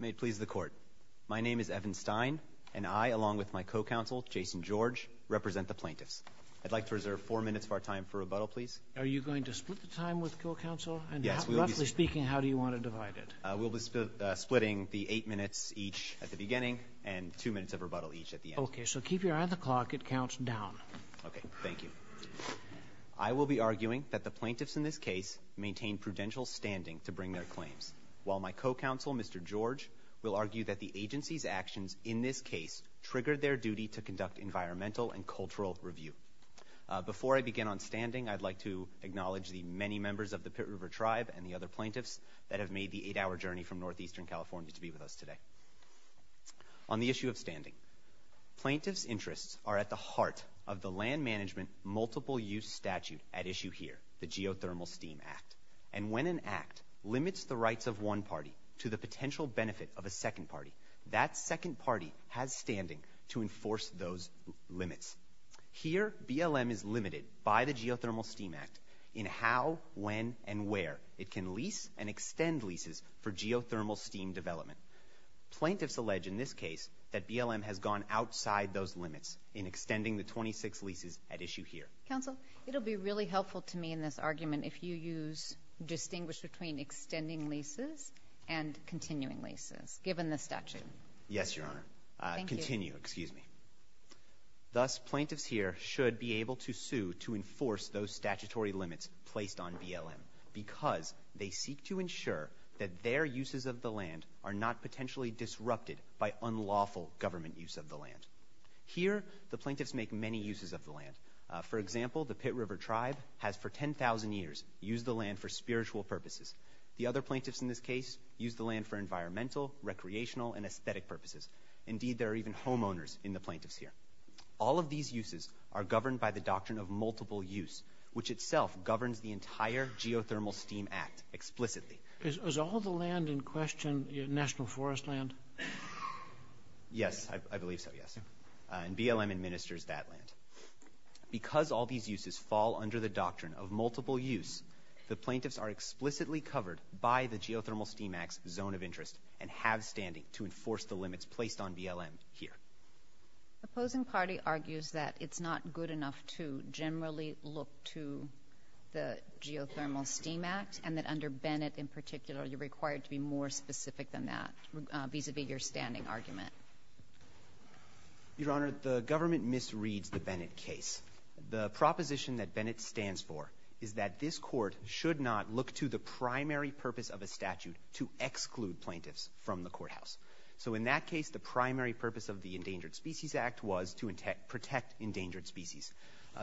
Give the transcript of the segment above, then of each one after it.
May it please the court. My name is Evan Stein, and I, along with my co-counsel, Jason George, represent the plaintiffs. I'd like to reserve four minutes of our time for rebuttal, please. Are you going to split the time with co-counsel? Yes. Roughly speaking, how do you want to divide it? We'll be splitting the eight minutes each at the beginning and two minutes of rebuttal each at the end. Okay. So keep your eye on the clock. It counts down. Okay. Thank you. I will be arguing that the plaintiffs in this case maintain prudential standing to bring their claims, while my co-counsel, Mr. George, will argue that the agency's actions in this case triggered their duty to conduct environmental and cultural review. Before I begin on standing, I'd like to acknowledge the many members of the Pit River Tribe and the other plaintiffs that have made the eight-hour journey from northeastern California to be with us today. On the issue of standing, plaintiffs' interests are at the heart of the land management multiple-use statute at issue here, the Geothermal Steam Act. And when an act limits the rights of one party to the potential benefit of a second party, that second party has standing to enforce those limits. Here, BLM is limited by the Geothermal Steam Act in how, when, and where it can lease and extend leases for geothermal steam development. Plaintiffs allege in this case that BLM has gone outside those limits in extending the 26 leases at issue here. Counsel, it'll be really helpful to me in this argument if you use distinguish between extending leases and continuing leases, given the statute. Yes, Your Honor. Thank you. Continue, excuse me. Thus, plaintiffs here should be able to sue to enforce those statutory limits placed on BLM because they seek to ensure that their uses of the land are not potentially disrupted by unlawful government use of the land. Here, the plaintiffs make many uses of the land. For example, the Pit River Tribe has for 10,000 years used the land for spiritual purposes. The other plaintiffs in this case use the land for environmental, recreational, and aesthetic purposes. Indeed, there are even homeowners in the plaintiffs here. All of these uses are governed by the doctrine of multiple use, which itself governs the entire Geothermal Steam Act explicitly. Is all the land in question national forest land? Yes, I believe so, yes. And BLM administers that land. Because all these uses fall under the doctrine of multiple use, the plaintiffs are explicitly covered by the Geothermal Steam Act's zone of interest and have standing to enforce the limits placed on BLM here. The opposing party argues that it's not good enough to generally look to the Geothermal Steam Act and that under Bennett, in particular, you're required to be more specific than that vis-à-vis your standing argument. Your Honor, the government misreads the Bennett case. The proposition that Bennett stands for is that this court should not look to the primary purpose of a statute to exclude plaintiffs from the courthouse. So in that case, the primary purpose of the Endangered Species Act was to protect endangered species.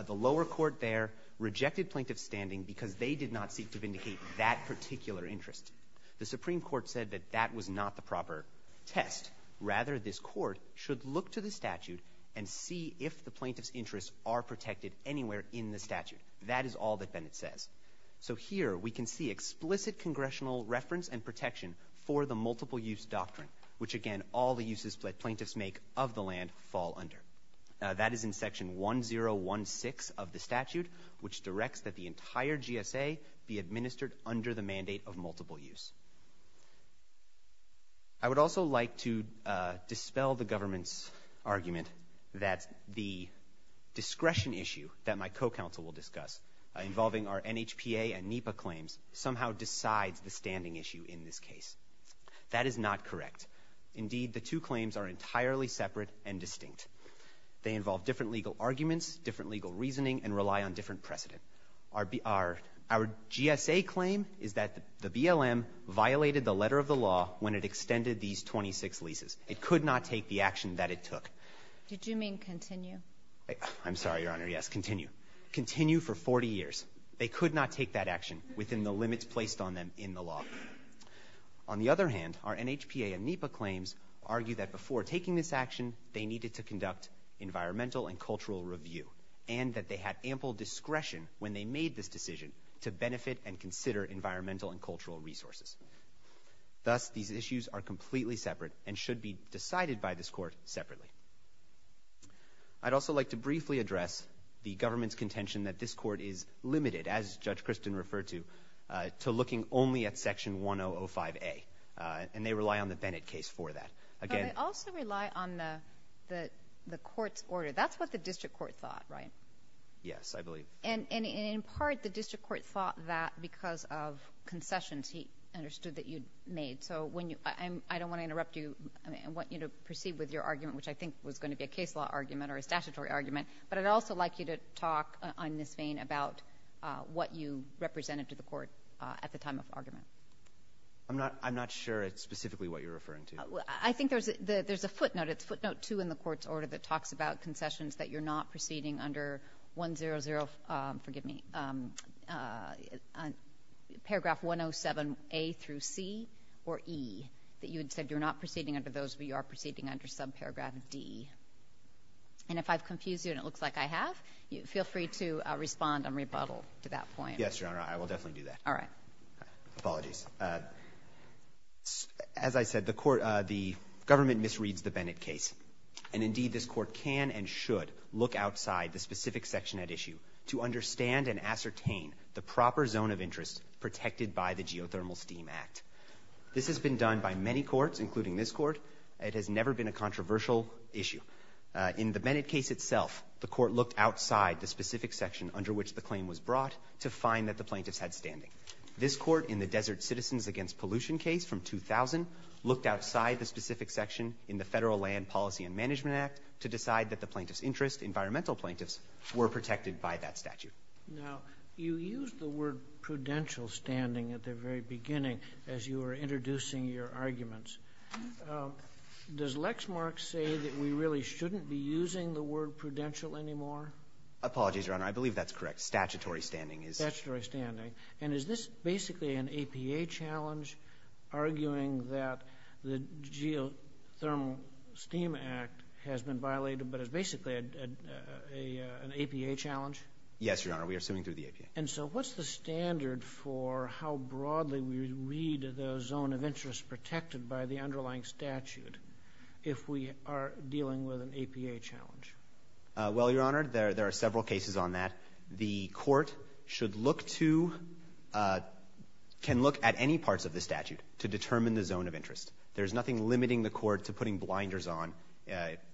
The lower court there rejected plaintiffs' standing because they did not seek to vindicate that particular interest. The Supreme Court said that that was not the proper test. Rather, this court should look to the statute and see if the plaintiffs' interests are protected anywhere in the statute. That is all that Bennett says. So here, we can see explicit congressional reference and protection for the multiple-use doctrine, which, again, all the uses that plaintiffs make of the land fall under. That is in Section 1016 of the statute, which directs that the entire GSA be administered under the mandate of multiple use. I would also like to dispel the government's argument that the discretion issue that my co-counsel will discuss involving our NHPA and NEPA claims somehow decides the standing issue in this case. That is not correct. Indeed, the two claims are entirely separate and distinct. They involve different legal arguments, different legal reasoning, and rely on different precedent. Our GSA claim is that the BLM violated the letter of the law when it extended these 26 leases. It could not take the action that it took. Did you mean continue? I'm sorry, Your Honor. Yes, continue. Continue for 40 years. They could not take that action within the limits placed on them in the law. On the other hand, our NHPA and NEPA claims argue that before taking this action, they needed to conduct environmental and cultural review and that they had ample discretion when they made this decision to benefit and consider environmental and cultural resources. Thus, these issues are completely separate and should be decided by this Court separately. I'd also like to briefly address the government's contention that this Court is limited, as Judge Christin referred to, to looking only at Section 1005A, and they rely on the Bennett case for that. But they also rely on the Court's order. That's what the district court thought, right? Yes, I believe. And in part, the district court thought that because of concessions he understood that you'd made. I don't want to interrupt you. I want you to proceed with your argument, which I think was going to be a case law argument or a statutory argument. But I'd also like you to talk on this vein about what you represented to the Court at the time of argument. I'm not sure it's specifically what you're referring to. I think there's a footnote. It's footnote 2 in the Court's order that talks about concessions that you're not proceeding under 100, 0, forgive me, paragraph 107A through C or E, that you had said you're not proceeding under those, but you are proceeding under subparagraph D. And if I've confused you and it looks like I have, feel free to respond and rebuttal to that point. Yes, Your Honor, I will definitely do that. All right. Apologies. As I said, the Court, the government misreads the Bennett case. And, indeed, this Court can and should look outside the specific section at issue to understand and ascertain the proper zone of interest protected by the Geothermal Steam Act. This has been done by many courts, including this Court. It has never been a controversial issue. In the Bennett case itself, the Court looked outside the specific section under which the claim was brought to find that the plaintiffs had standing. This Court, in the Desert Citizens Against Pollution case from 2000, looked outside the specific section in the Federal Land Policy and Management Act to decide that the plaintiffs' interest, environmental plaintiffs, were protected by that statute. Now, you used the word prudential standing at the very beginning as you were introducing your arguments. Does Lexmark say that we really shouldn't be using the word prudential anymore? Apologies, Your Honor. I believe that's correct. Statutory standing is. Statutory standing. And is this basically an APA challenge, arguing that the Geothermal Steam Act has been violated but is basically an APA challenge? Yes, Your Honor. We are suing through the APA. And so what's the standard for how broadly we read the zone of interest protected by the underlying statute if we are dealing with an APA challenge? Well, Your Honor, there are several cases on that. The court should look to, can look at any parts of the statute to determine the zone of interest. There is nothing limiting the court to putting blinders on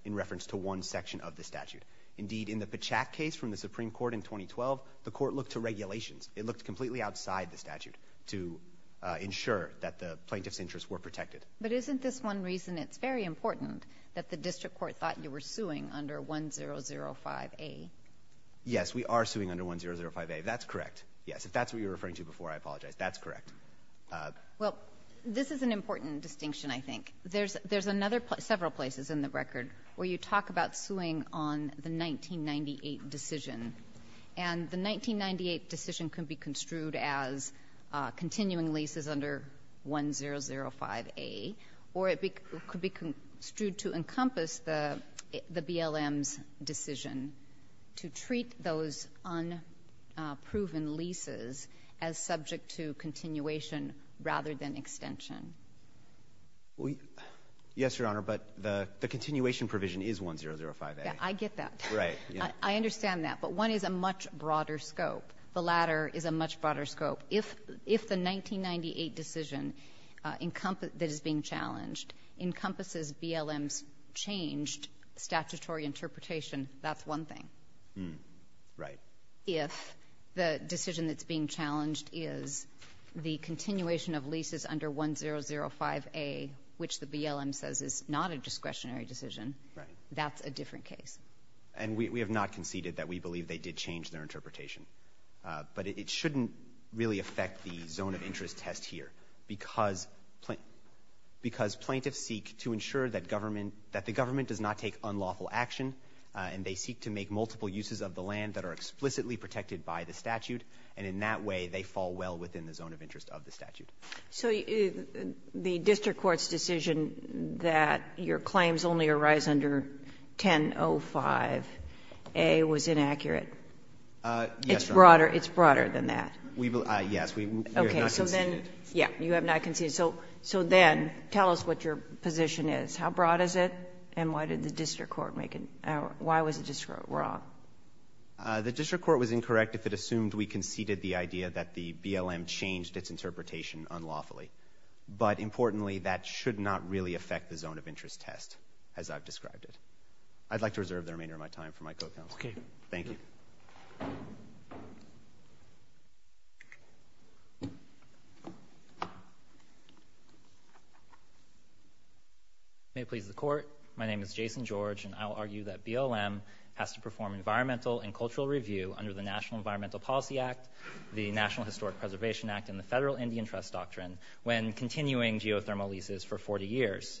in reference to one section of the statute. Indeed, in the Pachack case from the Supreme Court in 2012, the court looked to regulations. It looked completely outside the statute to ensure that the plaintiffs' interests were protected. But isn't this one reason it's very important that the district court thought you were suing under 1005A? Yes, we are suing under 1005A. That's correct. Yes. If that's what you were referring to before, I apologize. That's correct. Well, this is an important distinction, I think. There's another several places in the record where you talk about suing on the 1998 decision. And the 1998 decision can be construed as continuing leases under 1005A, or it could be construed to encompass the BLM's decision to treat those unproven leases as subject to continuation rather than extension. Yes, Your Honor, but the continuation provision is 1005A. I get that. Right. I understand that. But one is a much broader scope. The latter is a much broader scope. If the 1998 decision that is being challenged encompasses BLM's changed statutory interpretation, that's one thing. Right. If the decision that's being challenged is the continuation of leases under 1005A, which the BLM says is not a discretionary decision, that's a different case. And we have not conceded that we believe they did change their interpretation. But it shouldn't really affect the zone of interest test here, because plaintiffs seek to ensure that government does not take unlawful action, and they seek to make multiple uses of the land that are explicitly protected by the statute. And in that way, they fall well within the zone of interest of the statute. So the district court's decision that your claims only arise under 1005A was inaccurate? Yes, Your Honor. It's broader. It's broader than that. Yes. We have not conceded. Okay. So then you have not conceded. So then tell us what your position is. How broad is it? And why did the district court make an error? Why was the district court wrong? The district court was incorrect if it assumed we conceded the idea that the BLM changed its interpretation unlawfully. But importantly, that should not really affect the zone of interest test, as I've described it. I'd like to reserve the remainder of my time for my co-counsel. Okay. Thank you. May it please the Court, my name is Jason George, and I will argue that BLM has to perform environmental and cultural review under the National Environmental Policy Act, the National Historic Preservation Act, and the Federal Indian Trust Doctrine when continuing geothermal leases for 40 years.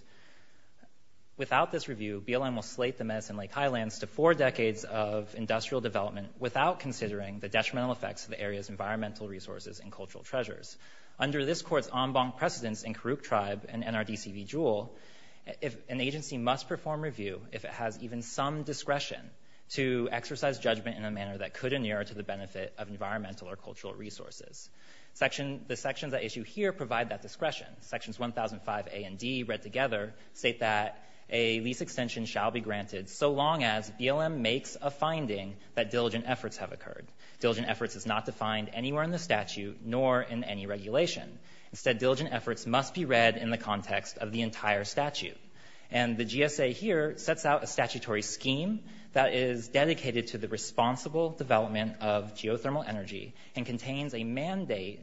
Without this review, BLM will slate the Medicine Lake Highlands to four decades of industrial development without considering the detrimental effects to the area's environmental resources and cultural treasures. Under this Court's en banc precedence in Karuk Tribe and NRDC v. Jewell, an agency must perform review if it has even some discretion to exercise judgment in a manner that could inure to the benefit of environmental or cultural resources. The sections I issue here provide that discretion. Sections 1005A and D, read together, state that a lease extension shall be granted so long as BLM makes a finding that diligent efforts have occurred. Diligent efforts is not defined anywhere in the statute nor in any regulation. Instead, diligent efforts must be read in the context of the entire statute. And the GSA here sets out a statutory scheme that is dedicated to the responsible development of geothermal energy and contains a mandate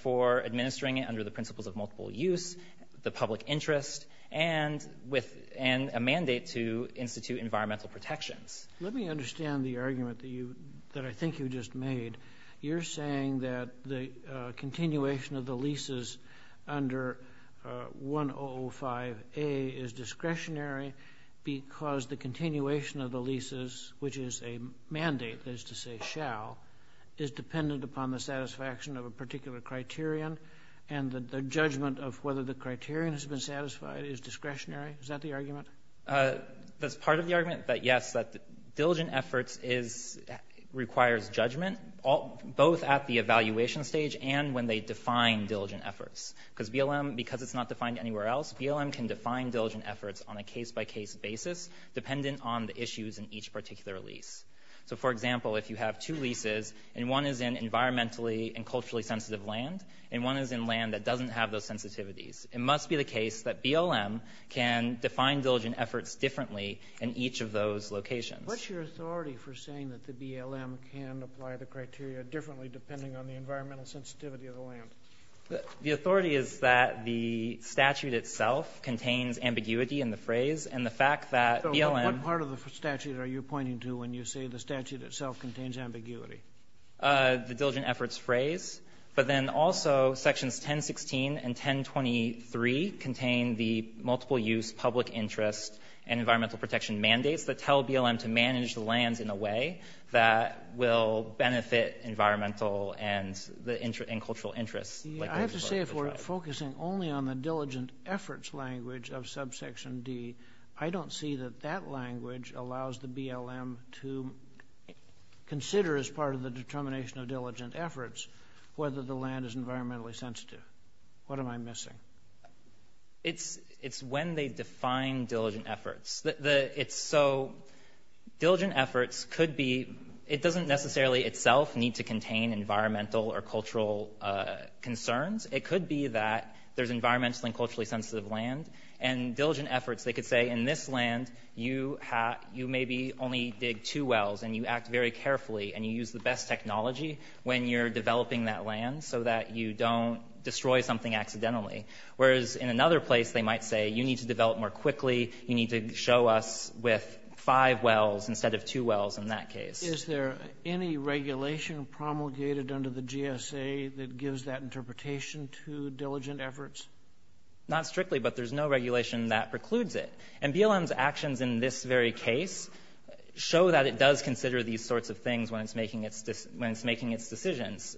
for administering it under the principles of multiple use, the public interest, and a mandate to institute environmental protections. Let me understand the argument that I think you just made. You're saying that the continuation of the leases under 1005A is discretionary because the is dependent upon the satisfaction of a particular criterion and the judgment of whether the criterion has been satisfied is discretionary? Is that the argument? That's part of the argument that, yes, that diligent efforts requires judgment both at the evaluation stage and when they define diligent efforts. Because BLM, because it's not defined anywhere else, BLM can define diligent efforts on a case-by-case basis dependent on the issues in each particular lease. So, for example, if you have two leases and one is in environmentally and culturally sensitive land and one is in land that doesn't have those sensitivities, it must be the case that BLM can define diligent efforts differently in each of those locations. What's your authority for saying that the BLM can apply the criteria differently depending on the environmental sensitivity of the land? The authority is that the statute itself contains ambiguity in the phrase and the fact that BLM So what part of the statute are you pointing to when you say the statute itself contains ambiguity? The diligent efforts phrase. But then also sections 1016 and 1023 contain the multiple-use public interest and environmental protection mandates that tell BLM to manage the lands in a way that will benefit environmental and cultural interests. I have to say, if we're focusing only on the diligent efforts language of subsection D, I don't see that that language allows the BLM to consider as part of the determination of diligent efforts whether the land is environmentally sensitive. What am I missing? It's when they define diligent efforts. So diligent efforts could be It doesn't necessarily itself need to contain environmental or cultural concerns. It could be that there's environmentally and culturally sensitive land. And diligent efforts, they could say in this land, you have you maybe only dig two wells and you act very carefully and you use the best technology when you're developing that land so that you don't destroy something accidentally. Whereas in another place, they might say you need to develop more quickly, you need to show us with five wells instead of two wells in that case. Is there any regulation promulgated under the GSA that gives that interpretation to diligent efforts? Not strictly, but there's no regulation that precludes it. And BLM's actions in this very case show that it does consider these sorts of things when it's making its decisions.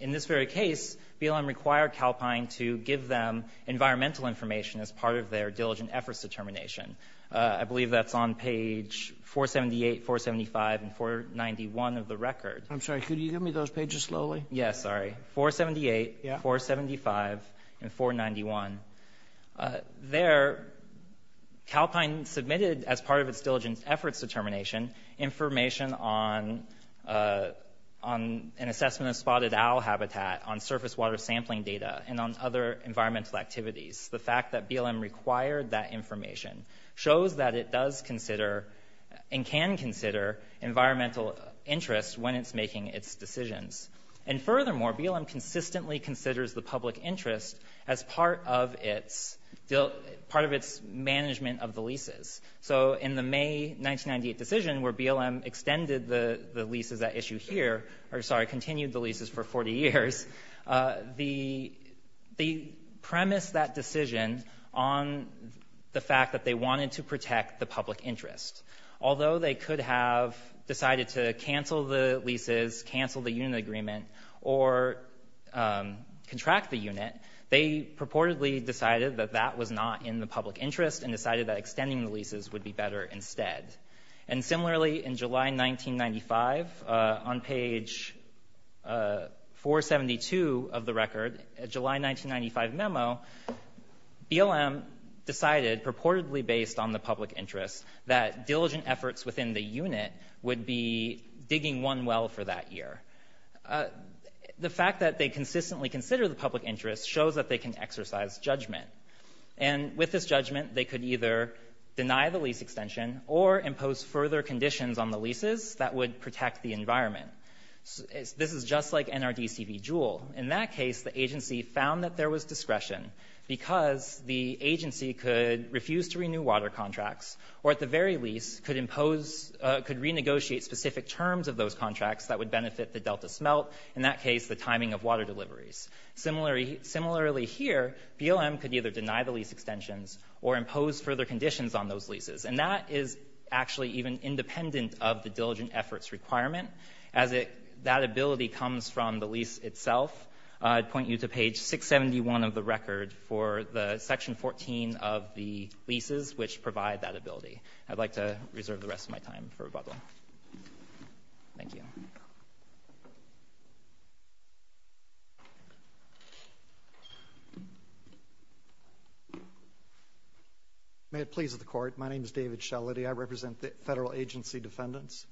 In this very case, BLM required Calpine to give them environmental information as part of their diligent efforts determination. I believe that's on page 478, 475, and 491 of the record. I'm sorry, could you give me those pages slowly? Yeah, sorry. 478, 475, and 491. There, Calpine submitted as part of its diligent efforts determination information on an assessment of spotted owl habitat, on surface water sampling data, and on other environmental activities. The fact that BLM required that information shows that it does consider and can consider environmental interests when it's making its decisions. And furthermore, BLM consistently considers the public interest as part of its management of the leases. So in the May 1998 decision where BLM extended the leases at issue here, or, sorry, continued the leases for 40 years, they premised that decision on the fact that they wanted to protect the public interest. Although they could have decided to cancel the leases, cancel the unit agreement, or contract the unit, they purportedly decided that that was not in the public interest and decided that extending the leases would be better instead. And similarly, in July 1995, on page 472 of the record, July 1995 memo, BLM decided purportedly based on the public interest that diligent efforts within the unit would be digging one well for that year. The fact that they consistently consider the public interest shows that they can exercise judgment. And with this judgment, they could either deny the lease extension or impose further conditions on the leases that would protect the environment. This is just like NRDC v. Jewell. In that case, the agency found that there was discretion because the agency could refuse to renew water contracts or at the very least could impose, could renegotiate specific terms of those contracts that would benefit the Delta smelt, in that case the timing of water deliveries. Similarly here, BLM could either deny the lease extensions or impose further conditions on those leases. And that is actually even independent of the diligent efforts requirement. As that ability comes from the lease itself, I'd point you to page 671 of the record for the section 14 of the leases which provide that ability. I'd like to reserve the rest of my time for rebuttal. Thank you. May it please the Court. My name is David Shellady. I represent the federal agency defendants.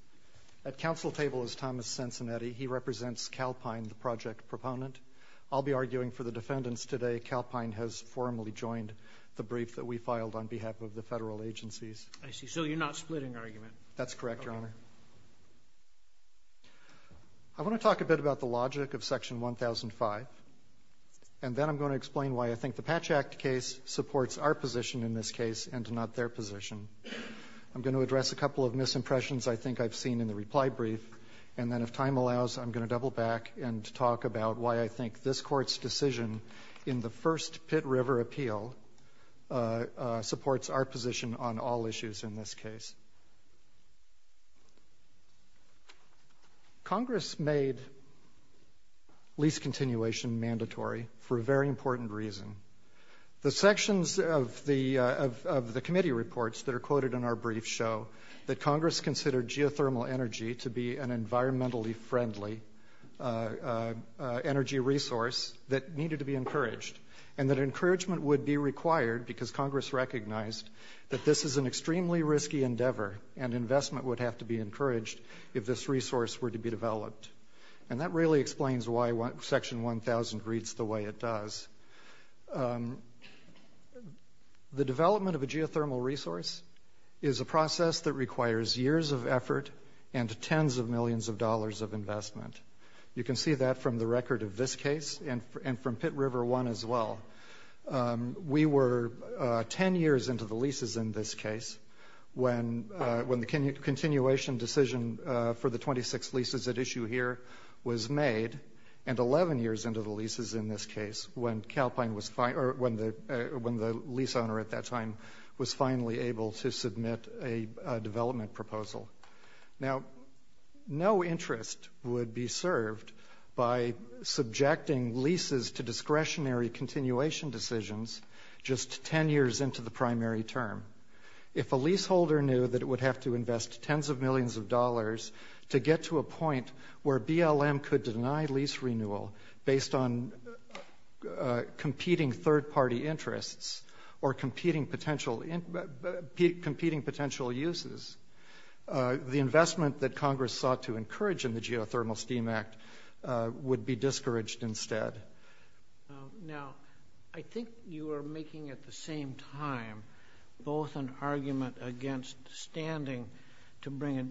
At council table is Thomas Cincinnati. He represents Calpine, the project proponent. I'll be arguing for the defendants today. Calpine has formally joined the brief that we filed on behalf of the federal agencies. So you're not splitting argument. That's correct, Your Honor. Thank you. I want to talk a bit about the logic of section 1005. And then I'm going to explain why I think the Patch Act case supports our position in this case and not their position. I'm going to address a couple of misimpressions I think I've seen in the reply brief. And then if time allows, I'm going to double back and talk about why I think this Court's decision in the first Pitt River appeal supports our position on all issues in this case. Congress made lease continuation mandatory for a very important reason. The sections of the committee reports that are quoted in our brief show that Congress considered geothermal energy to be an environmentally friendly energy resource that needed to be encouraged and that encouragement would be required because Congress recognized that this is an extremely risky endeavor and investment would have to be encouraged if this resource were to be developed. And that really explains why section 1000 reads the way it does. The development of a geothermal resource is a process that requires years of effort and tens of millions of dollars of investment. You can see that from the record of this case and from Pitt River 1 as well. We were 10 years into the leases in this case when the continuation decision for the 26 leases at issue here was made and 11 years into the leases in this case when the lease owner at that time was finally able to submit a development proposal. Now, no interest would be served by subjecting leases to discretionary continuation decisions just 10 years into the primary term. If a leaseholder knew that it would have to invest tens of millions of dollars to get to a point where BLM could deny lease renewal based on competing third-party interests or competing potential uses, the investment that Congress sought to encourage in the Geothermal Steam Act would be discouraged instead. Now, I think you are making at the same time both an argument against standing to bring a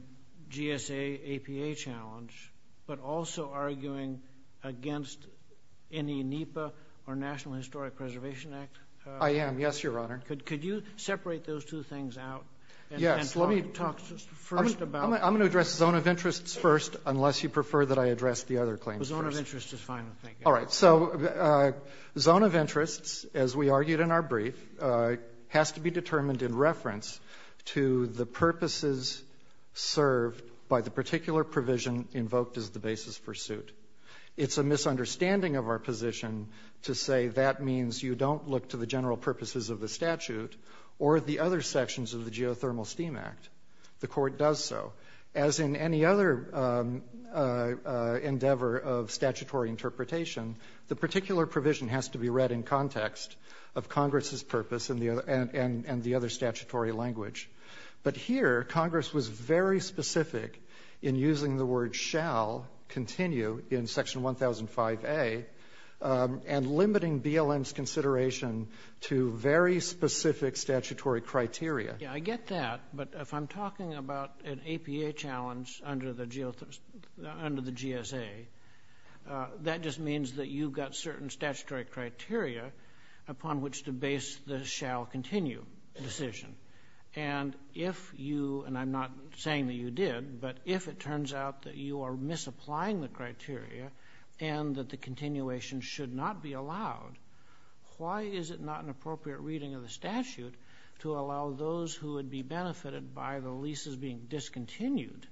GSA APA challenge but also arguing against any NEPA or National Historic Preservation Act. I am, yes, Your Honor. Could you separate those two things out and talk first about them? I'm going to address zone of interests first unless you prefer that I address the other claims first. The zone of interest is fine. All right. So zone of interests, as we argued in our brief, has to be determined in reference to the purposes served by the particular provision invoked as the basis for suit. It's a misunderstanding of our position to say that means you don't look to the general purposes of the statute or the other sections of the Geothermal Steam Act. The Court does so. As in any other endeavor of statutory interpretation, the particular provision has to be read in context of Congress's purpose and the other statutory language. But here, Congress was very specific in using the word shall continue in Section 1005A and limiting BLM's consideration to very specific statutory criteria. Yes, I get that. But if I'm talking about an APA challenge under the GSA, that just means that you've got certain statutory criteria upon which to base the shall continue decision. And if you, and I'm not saying that you did, but if it turns out that you are misapplying the criteria and that the continuation should not be allowed, why is it not an appropriate reading of the statute to allow those who would be benefited by the leases being discontinued?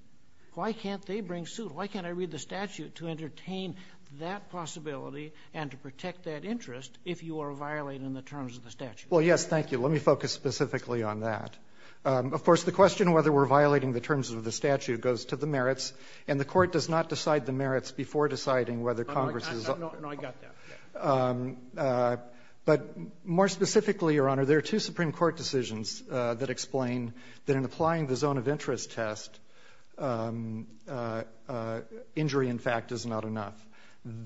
Why can't they bring suit? Why can't I read the statute to entertain that possibility and to protect that interest if you are violating the terms of the statute? Well, yes, thank you. Let me focus specifically on that. Of course, the question of whether we're violating the terms of the statute goes to the merits, and the Court does not decide the merits before deciding whether Congress is up for it. No, I got that. But more specifically, Your Honor, there are two Supreme Court decisions that explain that in applying the zone of interest test, injury, in fact, is not enough.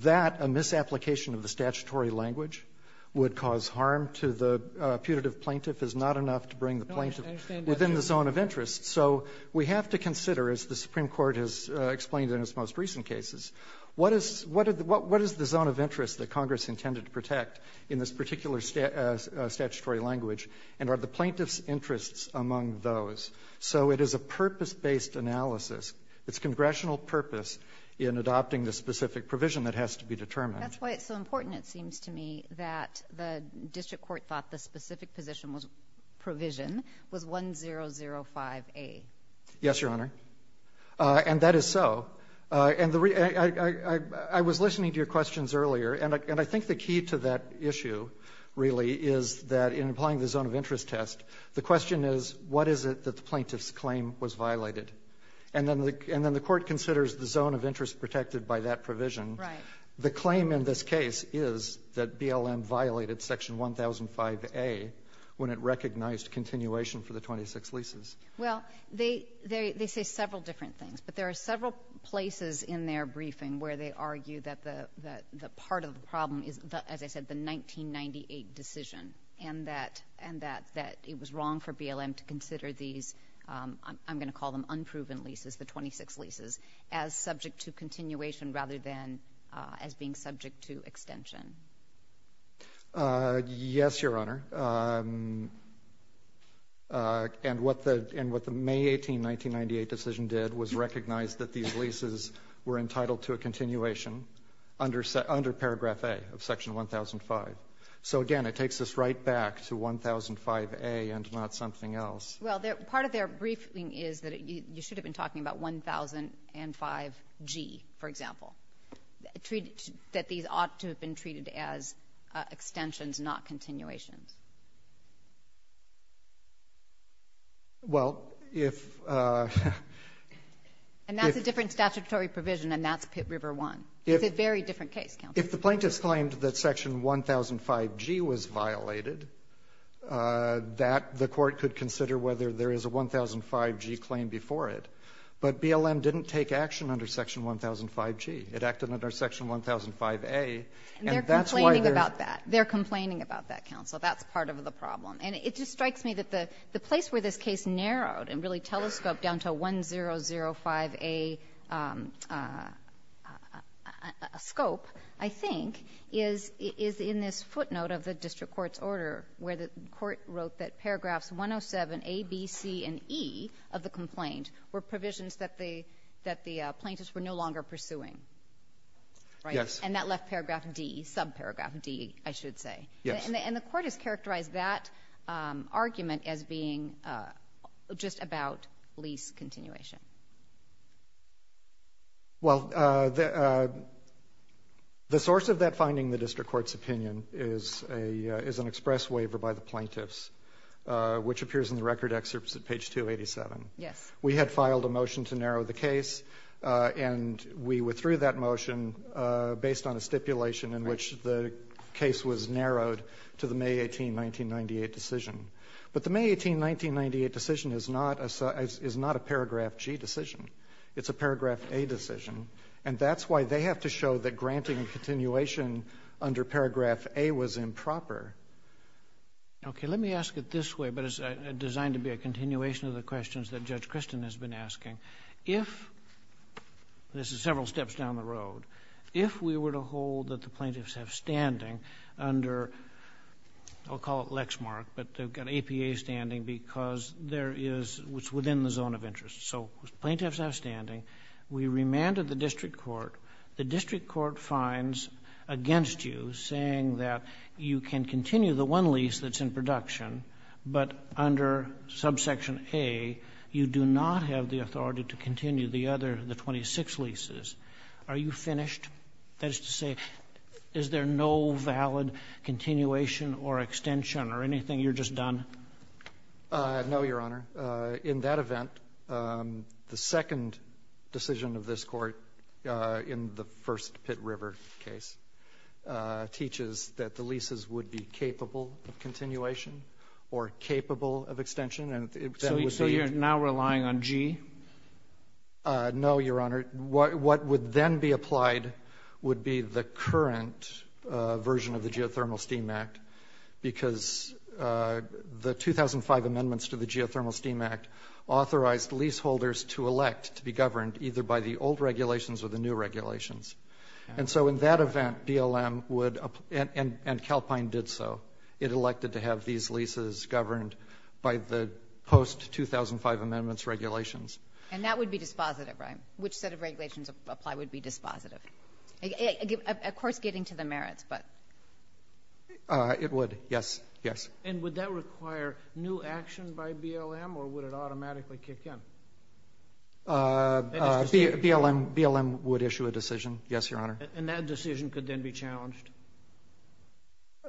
That a misapplication of the statutory language would cause harm to the putative plaintiff is not enough to bring the plaintiff within the zone of interest. So we have to consider, as the Supreme Court has explained in its most recent cases, what is the zone of interest that Congress intended to protect in this particular statutory language, and are the plaintiff's interests among those. So it is a purpose-based analysis. It's congressional purpose in adopting the specific provision that has to be determined. That's why it's so important, it seems to me, that the district court thought the specific position was provision was 1005A. Yes, Your Honor. And that is so. And I was listening to your questions earlier, and I think the key to that issue really is that in applying the zone of interest test, the question is, what is it that the plaintiff's claim was violated? And then the court considers the zone of interest protected by that provision. Right. The claim in this case is that BLM violated section 1005A when it recognized continuation for the 26 leases. Well, they say several different things. But there are several places in their briefing where they argue that the part of the decision and that it was wrong for BLM to consider these, I'm going to call them unproven leases, the 26 leases, as subject to continuation rather than as being subject to extension. Yes, Your Honor. And what the May 18, 1998 decision did was recognize that these leases were entitled to a continuation under paragraph A of section 1005. So, again, it takes us right back to 1005A and not something else. Well, part of their briefing is that you should have been talking about 1005G, for example, that these ought to have been treated as extensions, not continuations. Well, if ---- And that's a different statutory provision, and that's Pitt River I. It's a very different case, counsel. If the plaintiffs claimed that section 1005G was violated, that the court could consider whether there is a 1005G claim before it. But BLM didn't take action under section 1005G. It acted under section 1005A, and that's why there's ---- And they're complaining about that. They're complaining about that, counsel. That's part of the problem. And it just strikes me that the place where this case narrowed and really telescoped down to 1005A scope, I think, is in this footnote of the district court's order where the court wrote that paragraphs 107A, B, C, and E of the complaint were provisions that the plaintiffs were no longer pursuing. Right? Yes. And that left paragraph D, subparagraph D, I should say. Yes. And the court has characterized that argument as being just about lease continuation. Well, the source of that finding in the district court's opinion is an express waiver by the plaintiffs, which appears in the record excerpts at page 287. Yes. We had filed a motion to narrow the case, and we withdrew that motion based on a stipulation in which the case was narrowed to the May 18, 1998, decision. But the May 18, 1998, decision is not a paragraph G decision. It's a paragraph A decision. And that's why they have to show that granting a continuation under paragraph A was improper. Okay. Let me ask it this way, but it's designed to be a continuation of the questions that Judge Christin has been asking. If, this is several steps down the road, if we were to hold that the plaintiffs have standing under, I'll call it Lexmark, but they've got APA standing because there is what's within the zone of interest. So the plaintiffs have standing. We remanded the district court. The district court finds against you, saying that you can continue the one lease that's in production, but under subsection A, you do not have the authority to continue the other, the 26 leases. Are you finished? That is to say, is there no valid continuation or extension or anything? You're just done? No, Your Honor. In that event, the second decision of this Court in the first Pitt River case teaches that the leases would be capable of continuation or capable of extension. So you're now relying on G? No, Your Honor. What would then be applied would be the current version of the Geothermal Steam Act, because the 2005 amendments to the Geothermal Steam Act authorized leaseholders to elect to be governed either by the old regulations or the new regulations. And so in that event, BLM would and Calpine did so. It elected to have these leases governed by the post-2005 amendments regulations. And that would be dispositive, right? Which set of regulations apply would be dispositive? Of course, getting to the merits, but. It would, yes. Yes. And would that require new action by BLM, or would it automatically kick in? BLM would issue a decision. Yes, Your Honor. And that decision could then be challenged?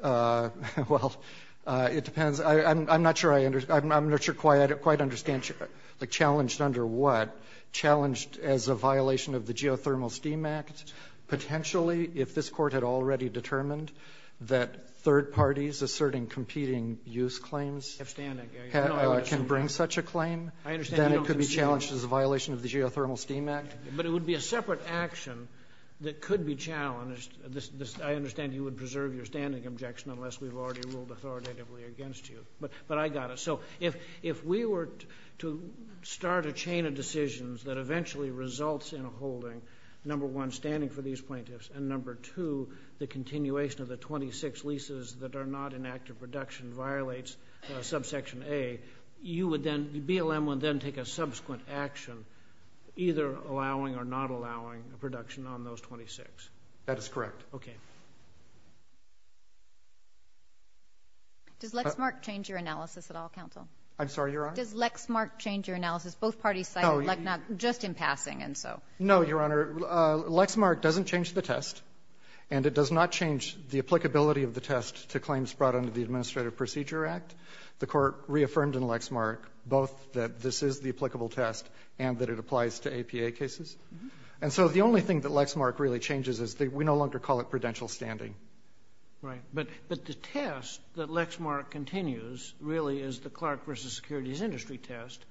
Well, it depends. I'm not sure I quite understand challenged under what? Challenged as a violation of the Geothermal Steam Act? Potentially, if this Court had already determined that third parties asserting competing use claims can bring such a claim, then it could be challenged as a violation of the Geothermal Steam Act? But it would be a separate action that could be challenged. I understand you would preserve your standing objection unless we've already ruled authoritatively against you. But I got it. So if we were to start a chain of decisions that eventually results in holding, number one, standing for these plaintiffs, and number two, the continuation of the 26 leases that are not in active production violates subsection A, you would then, BLM would then take a subsequent action either allowing or not allowing a production on those 26? That is correct. Okay. Does Lexmark change your analysis at all, counsel? I'm sorry, Your Honor? Does Lexmark change your analysis? Both parties cited Lexmark just in passing, and so. No, Your Honor. Lexmark doesn't change the test, and it does not change the applicability of the test to claims brought under the Administrative Procedure Act. The Court reaffirmed in Lexmark both that this is the applicable test and that it applies to APA cases. And so the only thing that Lexmark really changes is that we no longer call it prudential standing. Right. But the test that Lexmark continues really is the Clark v. Securities Industry test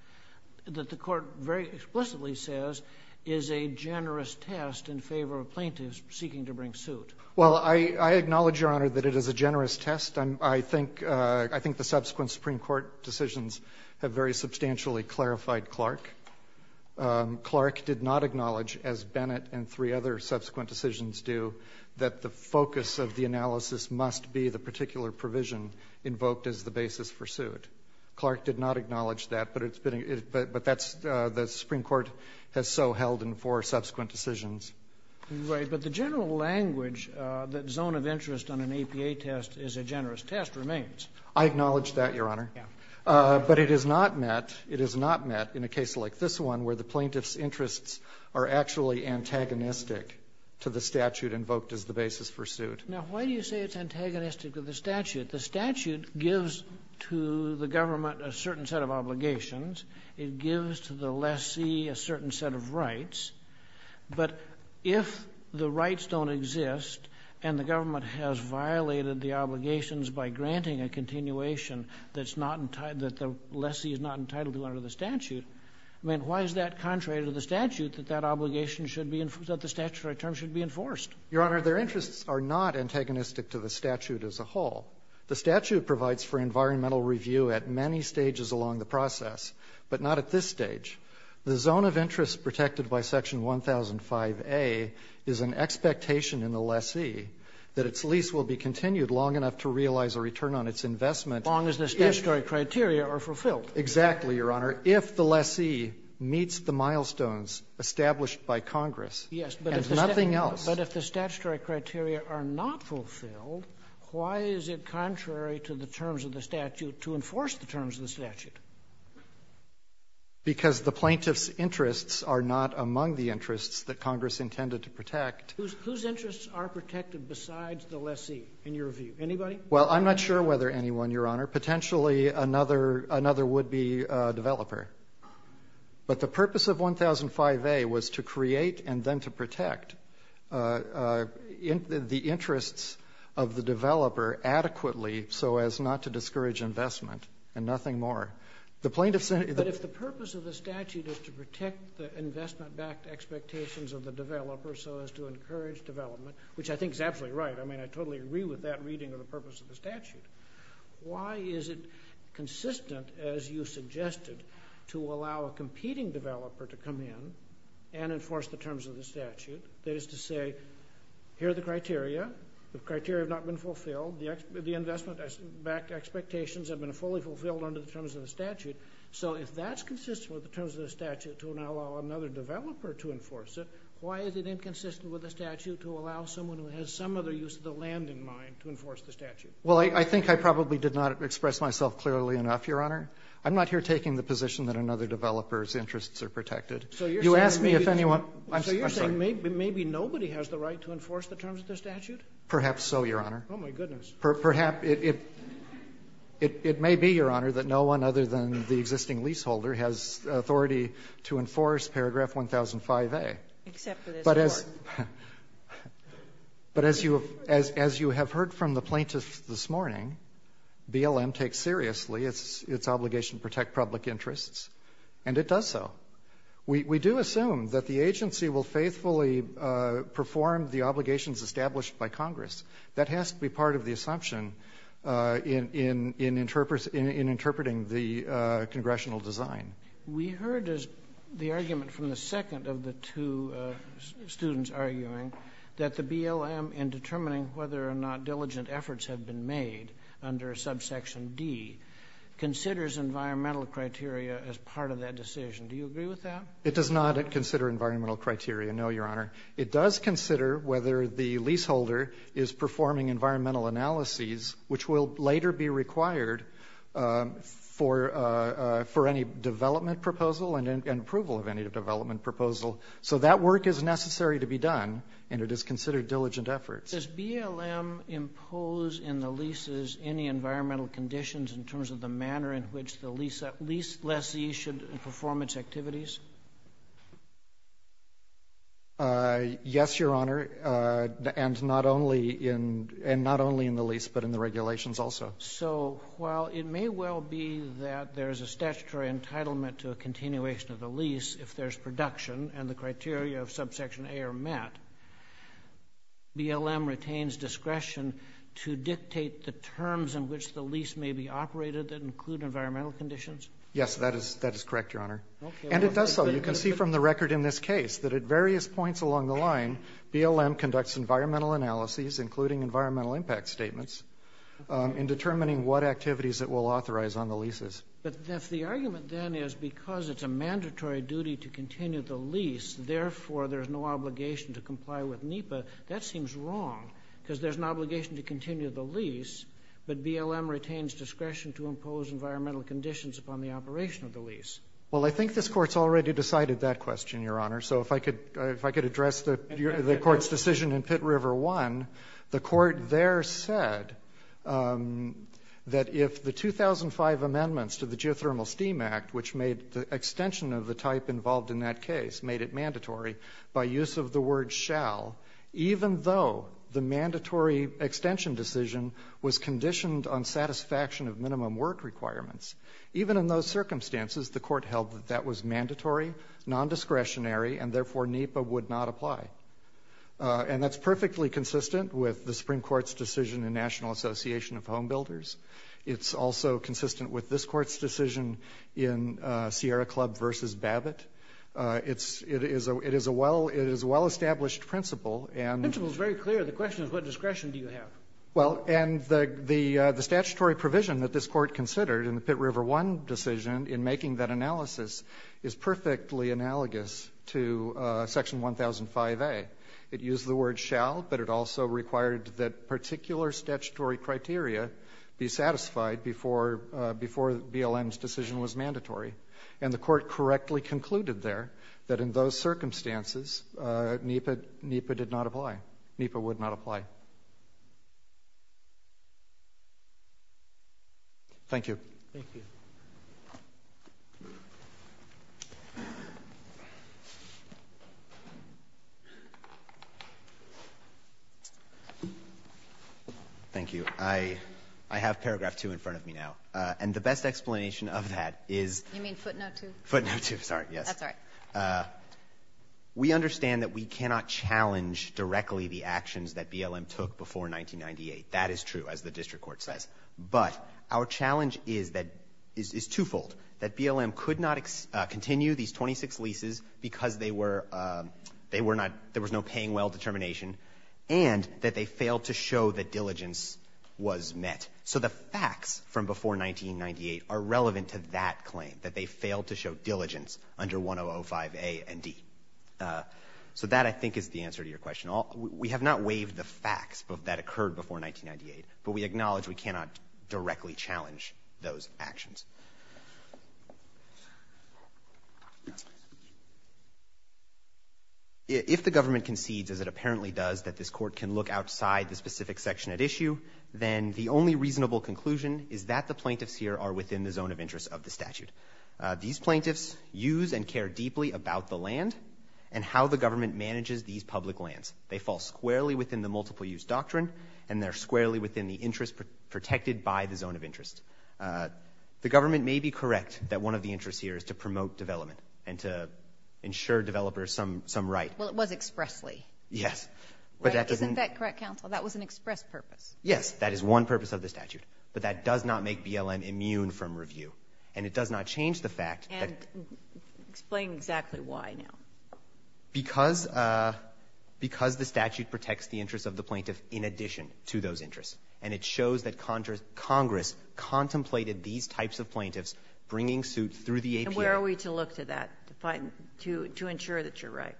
that the Court very explicitly says is a generous test in favor of plaintiffs seeking to bring suit. Well, I acknowledge, Your Honor, that it is a generous test. I think the subsequent Supreme Court decisions have very substantially clarified Clark. Clark did not acknowledge, as Bennett and three other subsequent decisions do, that the focus of the analysis must be the particular provision invoked as the basis for suit. Clark did not acknowledge that, but it's been — but that's — the Supreme Court has so held in four subsequent decisions. Right. But the general language that zone of interest on an APA test is a generous test remains. I acknowledge that, Your Honor. Yeah. But it is not met — it is not met in a case like this one where the plaintiff's interests are actually antagonistic to the statute invoked as the basis for suit. Now, why do you say it's antagonistic to the statute? The statute gives to the government a certain set of obligations. It gives to the lessee a certain set of rights. But if the rights don't exist and the government has violated the obligations by granting a continuation that's not — that the lessee is not entitled to under the statute, I mean, why is that contrary to the statute, that that obligation should be — that the statutory term should be enforced? Your Honor, their interests are not antagonistic to the statute as a whole. The statute provides for environmental review at many stages along the process, but not at this stage. The zone of interest protected by Section 1005a is an expectation in the lessee that its lease will be continued long enough to realize a return on its investment if — As long as the statutory criteria are fulfilled. Exactly, Your Honor. If the lessee meets the milestones established by Congress — Yes. — and nothing else — But if the statutory criteria are not fulfilled, why is it contrary to the terms of the statute to enforce the terms of the statute? Because the plaintiff's interests are not among the interests that Congress intended to protect. Whose interests are protected besides the lessee, in your view? Anybody? Well, I'm not sure whether anyone, Your Honor. Potentially, another — another would-be developer. But the purpose of 1005a was to create and then to protect the interests of the developer adequately so as not to discourage investment and nothing more. The plaintiff said — But if the purpose of the statute is to protect the investment-backed expectations of the developer so as to encourage development, which I think is absolutely right — I mean, I totally agree with that reading of the purpose of the statute — why is it consistent, as you suggested, to allow a competing developer to come in and enforce the terms of the statute? That is to say, here are the criteria. The criteria have not been fulfilled. The investment-backed expectations have been fully fulfilled under the terms of the statute. So if that's consistent with the terms of the statute to allow another developer to enforce it, why is it inconsistent with the statute to allow someone who has some other use of the land in mind to enforce the statute? Well, I think I probably did not express myself clearly enough, Your Honor. I'm not here taking the position that another developer's interests are protected. So you're saying — You ask me if anyone — I'm sorry. So you're saying maybe nobody has the right to enforce the terms of the statute? Perhaps so, Your Honor. Oh, my goodness. Perhaps it — it may be, Your Honor, that no one other than the existing leaseholder has authority to enforce Paragraph 1005a. Except for this Court. But as — but as you have heard from the plaintiffs this morning, BLM takes seriously its obligation to protect public interests, and it does so. We do assume that the agency will faithfully perform the obligations established by Congress. That has to be part of the assumption in interpreting the congressional design. We heard the argument from the second of the two students arguing that the BLM, in determining whether or not diligent efforts have been made under subsection D, considers environmental criteria as part of that decision. Do you agree with that? It does not consider environmental criteria, no, Your Honor. It does consider whether the leaseholder is performing environmental analyses, which will later be required for any development proposal and approval of any development proposal. So that work is necessary to be done, and it is considered diligent efforts. Does BLM impose in the leases any environmental conditions in terms of the manner in which the lease — lease lessee should perform its activities? Yes, Your Honor, and not only in — and not only in the lease, but in the regulations also. So while it may well be that there's a statutory entitlement to a continuation of the lease if there's production, and the criteria of subsection A are met, BLM retains discretion to dictate the terms in which the lease may be operated that include environmental conditions? Yes, that is — that is correct, Your Honor. And it does so. You can see from the record in this case that at various points along the line, BLM conducts environmental analyses, including environmental impact statements, in determining what activities it will authorize on the leases. But if the argument then is because it's a mandatory duty to continue the lease, therefore there's no obligation to comply with NEPA, that seems wrong, because there's an obligation to continue the lease, but BLM retains discretion to impose environmental conditions upon the operation of the lease. Well, I think this Court's already decided that question, Your Honor. So if I could — if I could address the Court's decision in Pitt River I, the Court there said that if the 2005 amendments to the Geothermal Steam Act, which made the extension of the type involved in that case, made it mandatory by use of the word shall, even though the mandatory extension decision was conditioned on satisfaction of minimum work requirements, even in those circumstances the Court held that that was mandatory, nondiscretionary, and therefore NEPA would not apply. And that's perfectly consistent with the Supreme Court's decision in National Association of Home Builders. It's also consistent with this Court's decision in Sierra Club v. Babbitt. It's — it is a — it is a well — it is a well-established principle, and — The principle is very clear. The question is what discretion do you have? Well, and the — the statutory provision that this Court considered in the Pitt River I decision in making that analysis is perfectly analogous to Section 1005a. It used the word shall, but it also required that particular statutory criteria be satisfied before — before BLM's decision was mandatory. And the Court correctly concluded there that in those circumstances NEPA — NEPA did not apply. NEPA would not apply. Thank you. Thank you. Thank you. I — I have paragraph 2 in front of me now. And the best explanation of that is — You mean footnote 2? Footnote 2. Sorry. We understand that we cannot challenge directly the Supreme Court's decision to continue these 26 leases because they were — they were not — there was no paying well determination, and that they failed to show that diligence was met. So the facts from before 1998 are relevant to that claim, that they failed to show diligence under 1005a and D. So that, I think, is the answer to your question. We have not waived the facts that occurred before 1998, but we acknowledge we cannot directly challenge those actions. If the government concedes, as it apparently does, that this Court can look outside the specific section at issue, then the only reasonable conclusion is that the plaintiffs here are within the zone of interest of the statute. These plaintiffs use and care deeply about the land and how the government manages these public lands. They fall squarely within the multiple-use doctrine, and they're squarely within the interest protected by the zone of interest. The government may be correct that one of the interests here is to promote development and to ensure developers some right. Well, it was expressly. Yes. But that doesn't — Isn't that correct, counsel? That was an express purpose. Yes. That is one purpose of the statute. But that does not make BLM immune from review. And it does not change the fact that — And explain exactly why now. Because the statute protects the interests of the plaintiff in addition to those interests, and it shows that Congress contemplated these types of plaintiffs bringing suits through the APA. And where are we to look to that to find — to ensure that you're right?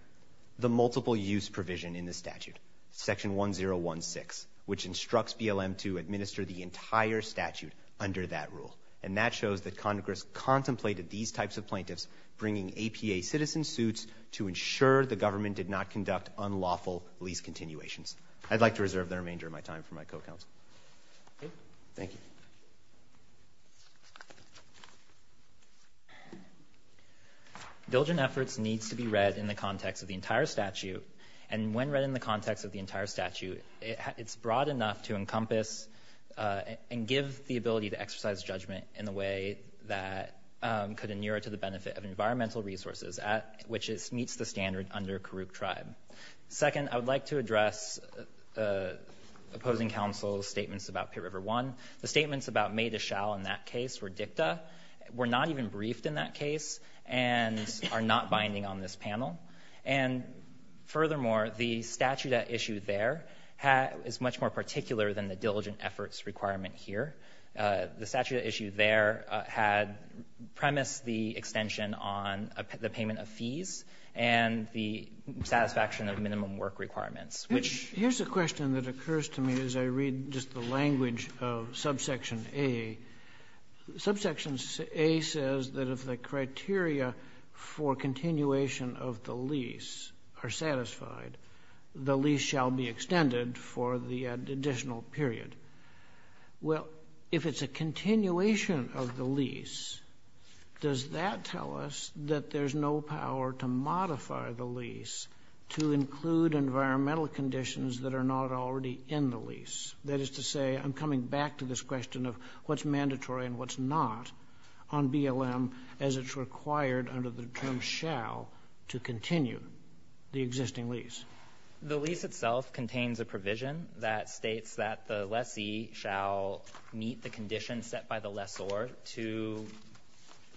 The multiple-use provision in the statute, Section 1016, which instructs BLM to administer the entire statute under that rule. And that shows that Congress contemplated these types of plaintiffs bringing APA citizen suits to ensure the government did not conduct unlawful lease continuations. I'd like to reserve the remainder of my time for my co-counsel. Okay. Thank you. Diligent efforts needs to be read in the context of the entire statute. And when read in the context of the entire statute, it's broad enough to encompass and give the ability to exercise judgment in a way that could inure to the benefit of which it meets the standard under Karuk Tribe. Second, I would like to address opposing counsel's statements about Pitt River I. The statements about May Deschalles in that case were dicta, were not even briefed in that case, and are not binding on this panel. And furthermore, the statute at issue there is much more particular than the diligent efforts requirement here. The statute at issue there had premised the extension on the payment of fees and the satisfaction of minimum work requirements, which ---- Here's a question that occurs to me as I read just the language of subsection A. Subsection A says that if the criteria for continuation of the lease are satisfied, the lease shall be extended for the additional period. Well, if it's a continuation of the lease, does that tell us that there's no power to modify the lease to include environmental conditions that are not already in the lease? That is to say, I'm coming back to this question of what's mandatory and what's not on BLM as it's required under the term shall to continue the existing lease. The lease itself contains a provision that states that the lessee shall meet the conditions set by the lessor to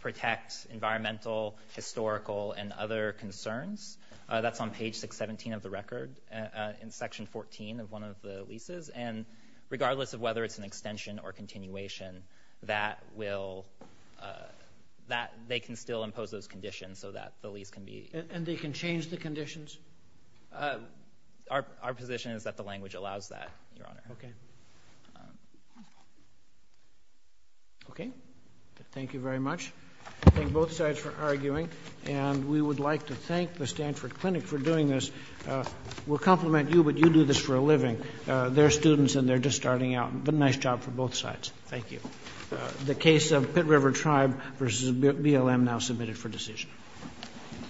protect environmental, historical, and other concerns. That's on page 617 of the record in section 14 of one of the leases. And regardless of whether it's an extension or continuation, that will ---- that they can still impose those conditions so that the lease can be ---- And they can change the conditions? Our position is that the language allows that, Your Honor. Okay. Okay. Thank you very much. Thank both sides for arguing. And we would like to thank the Stanford Clinic for doing this. We'll compliment you, but you do this for a living. They're students and they're just starting out. But nice job for both sides. Thank you. The case of Pitt River Tribe v. BLM now submitted for decision. All rise. This court for this session stands adjourned.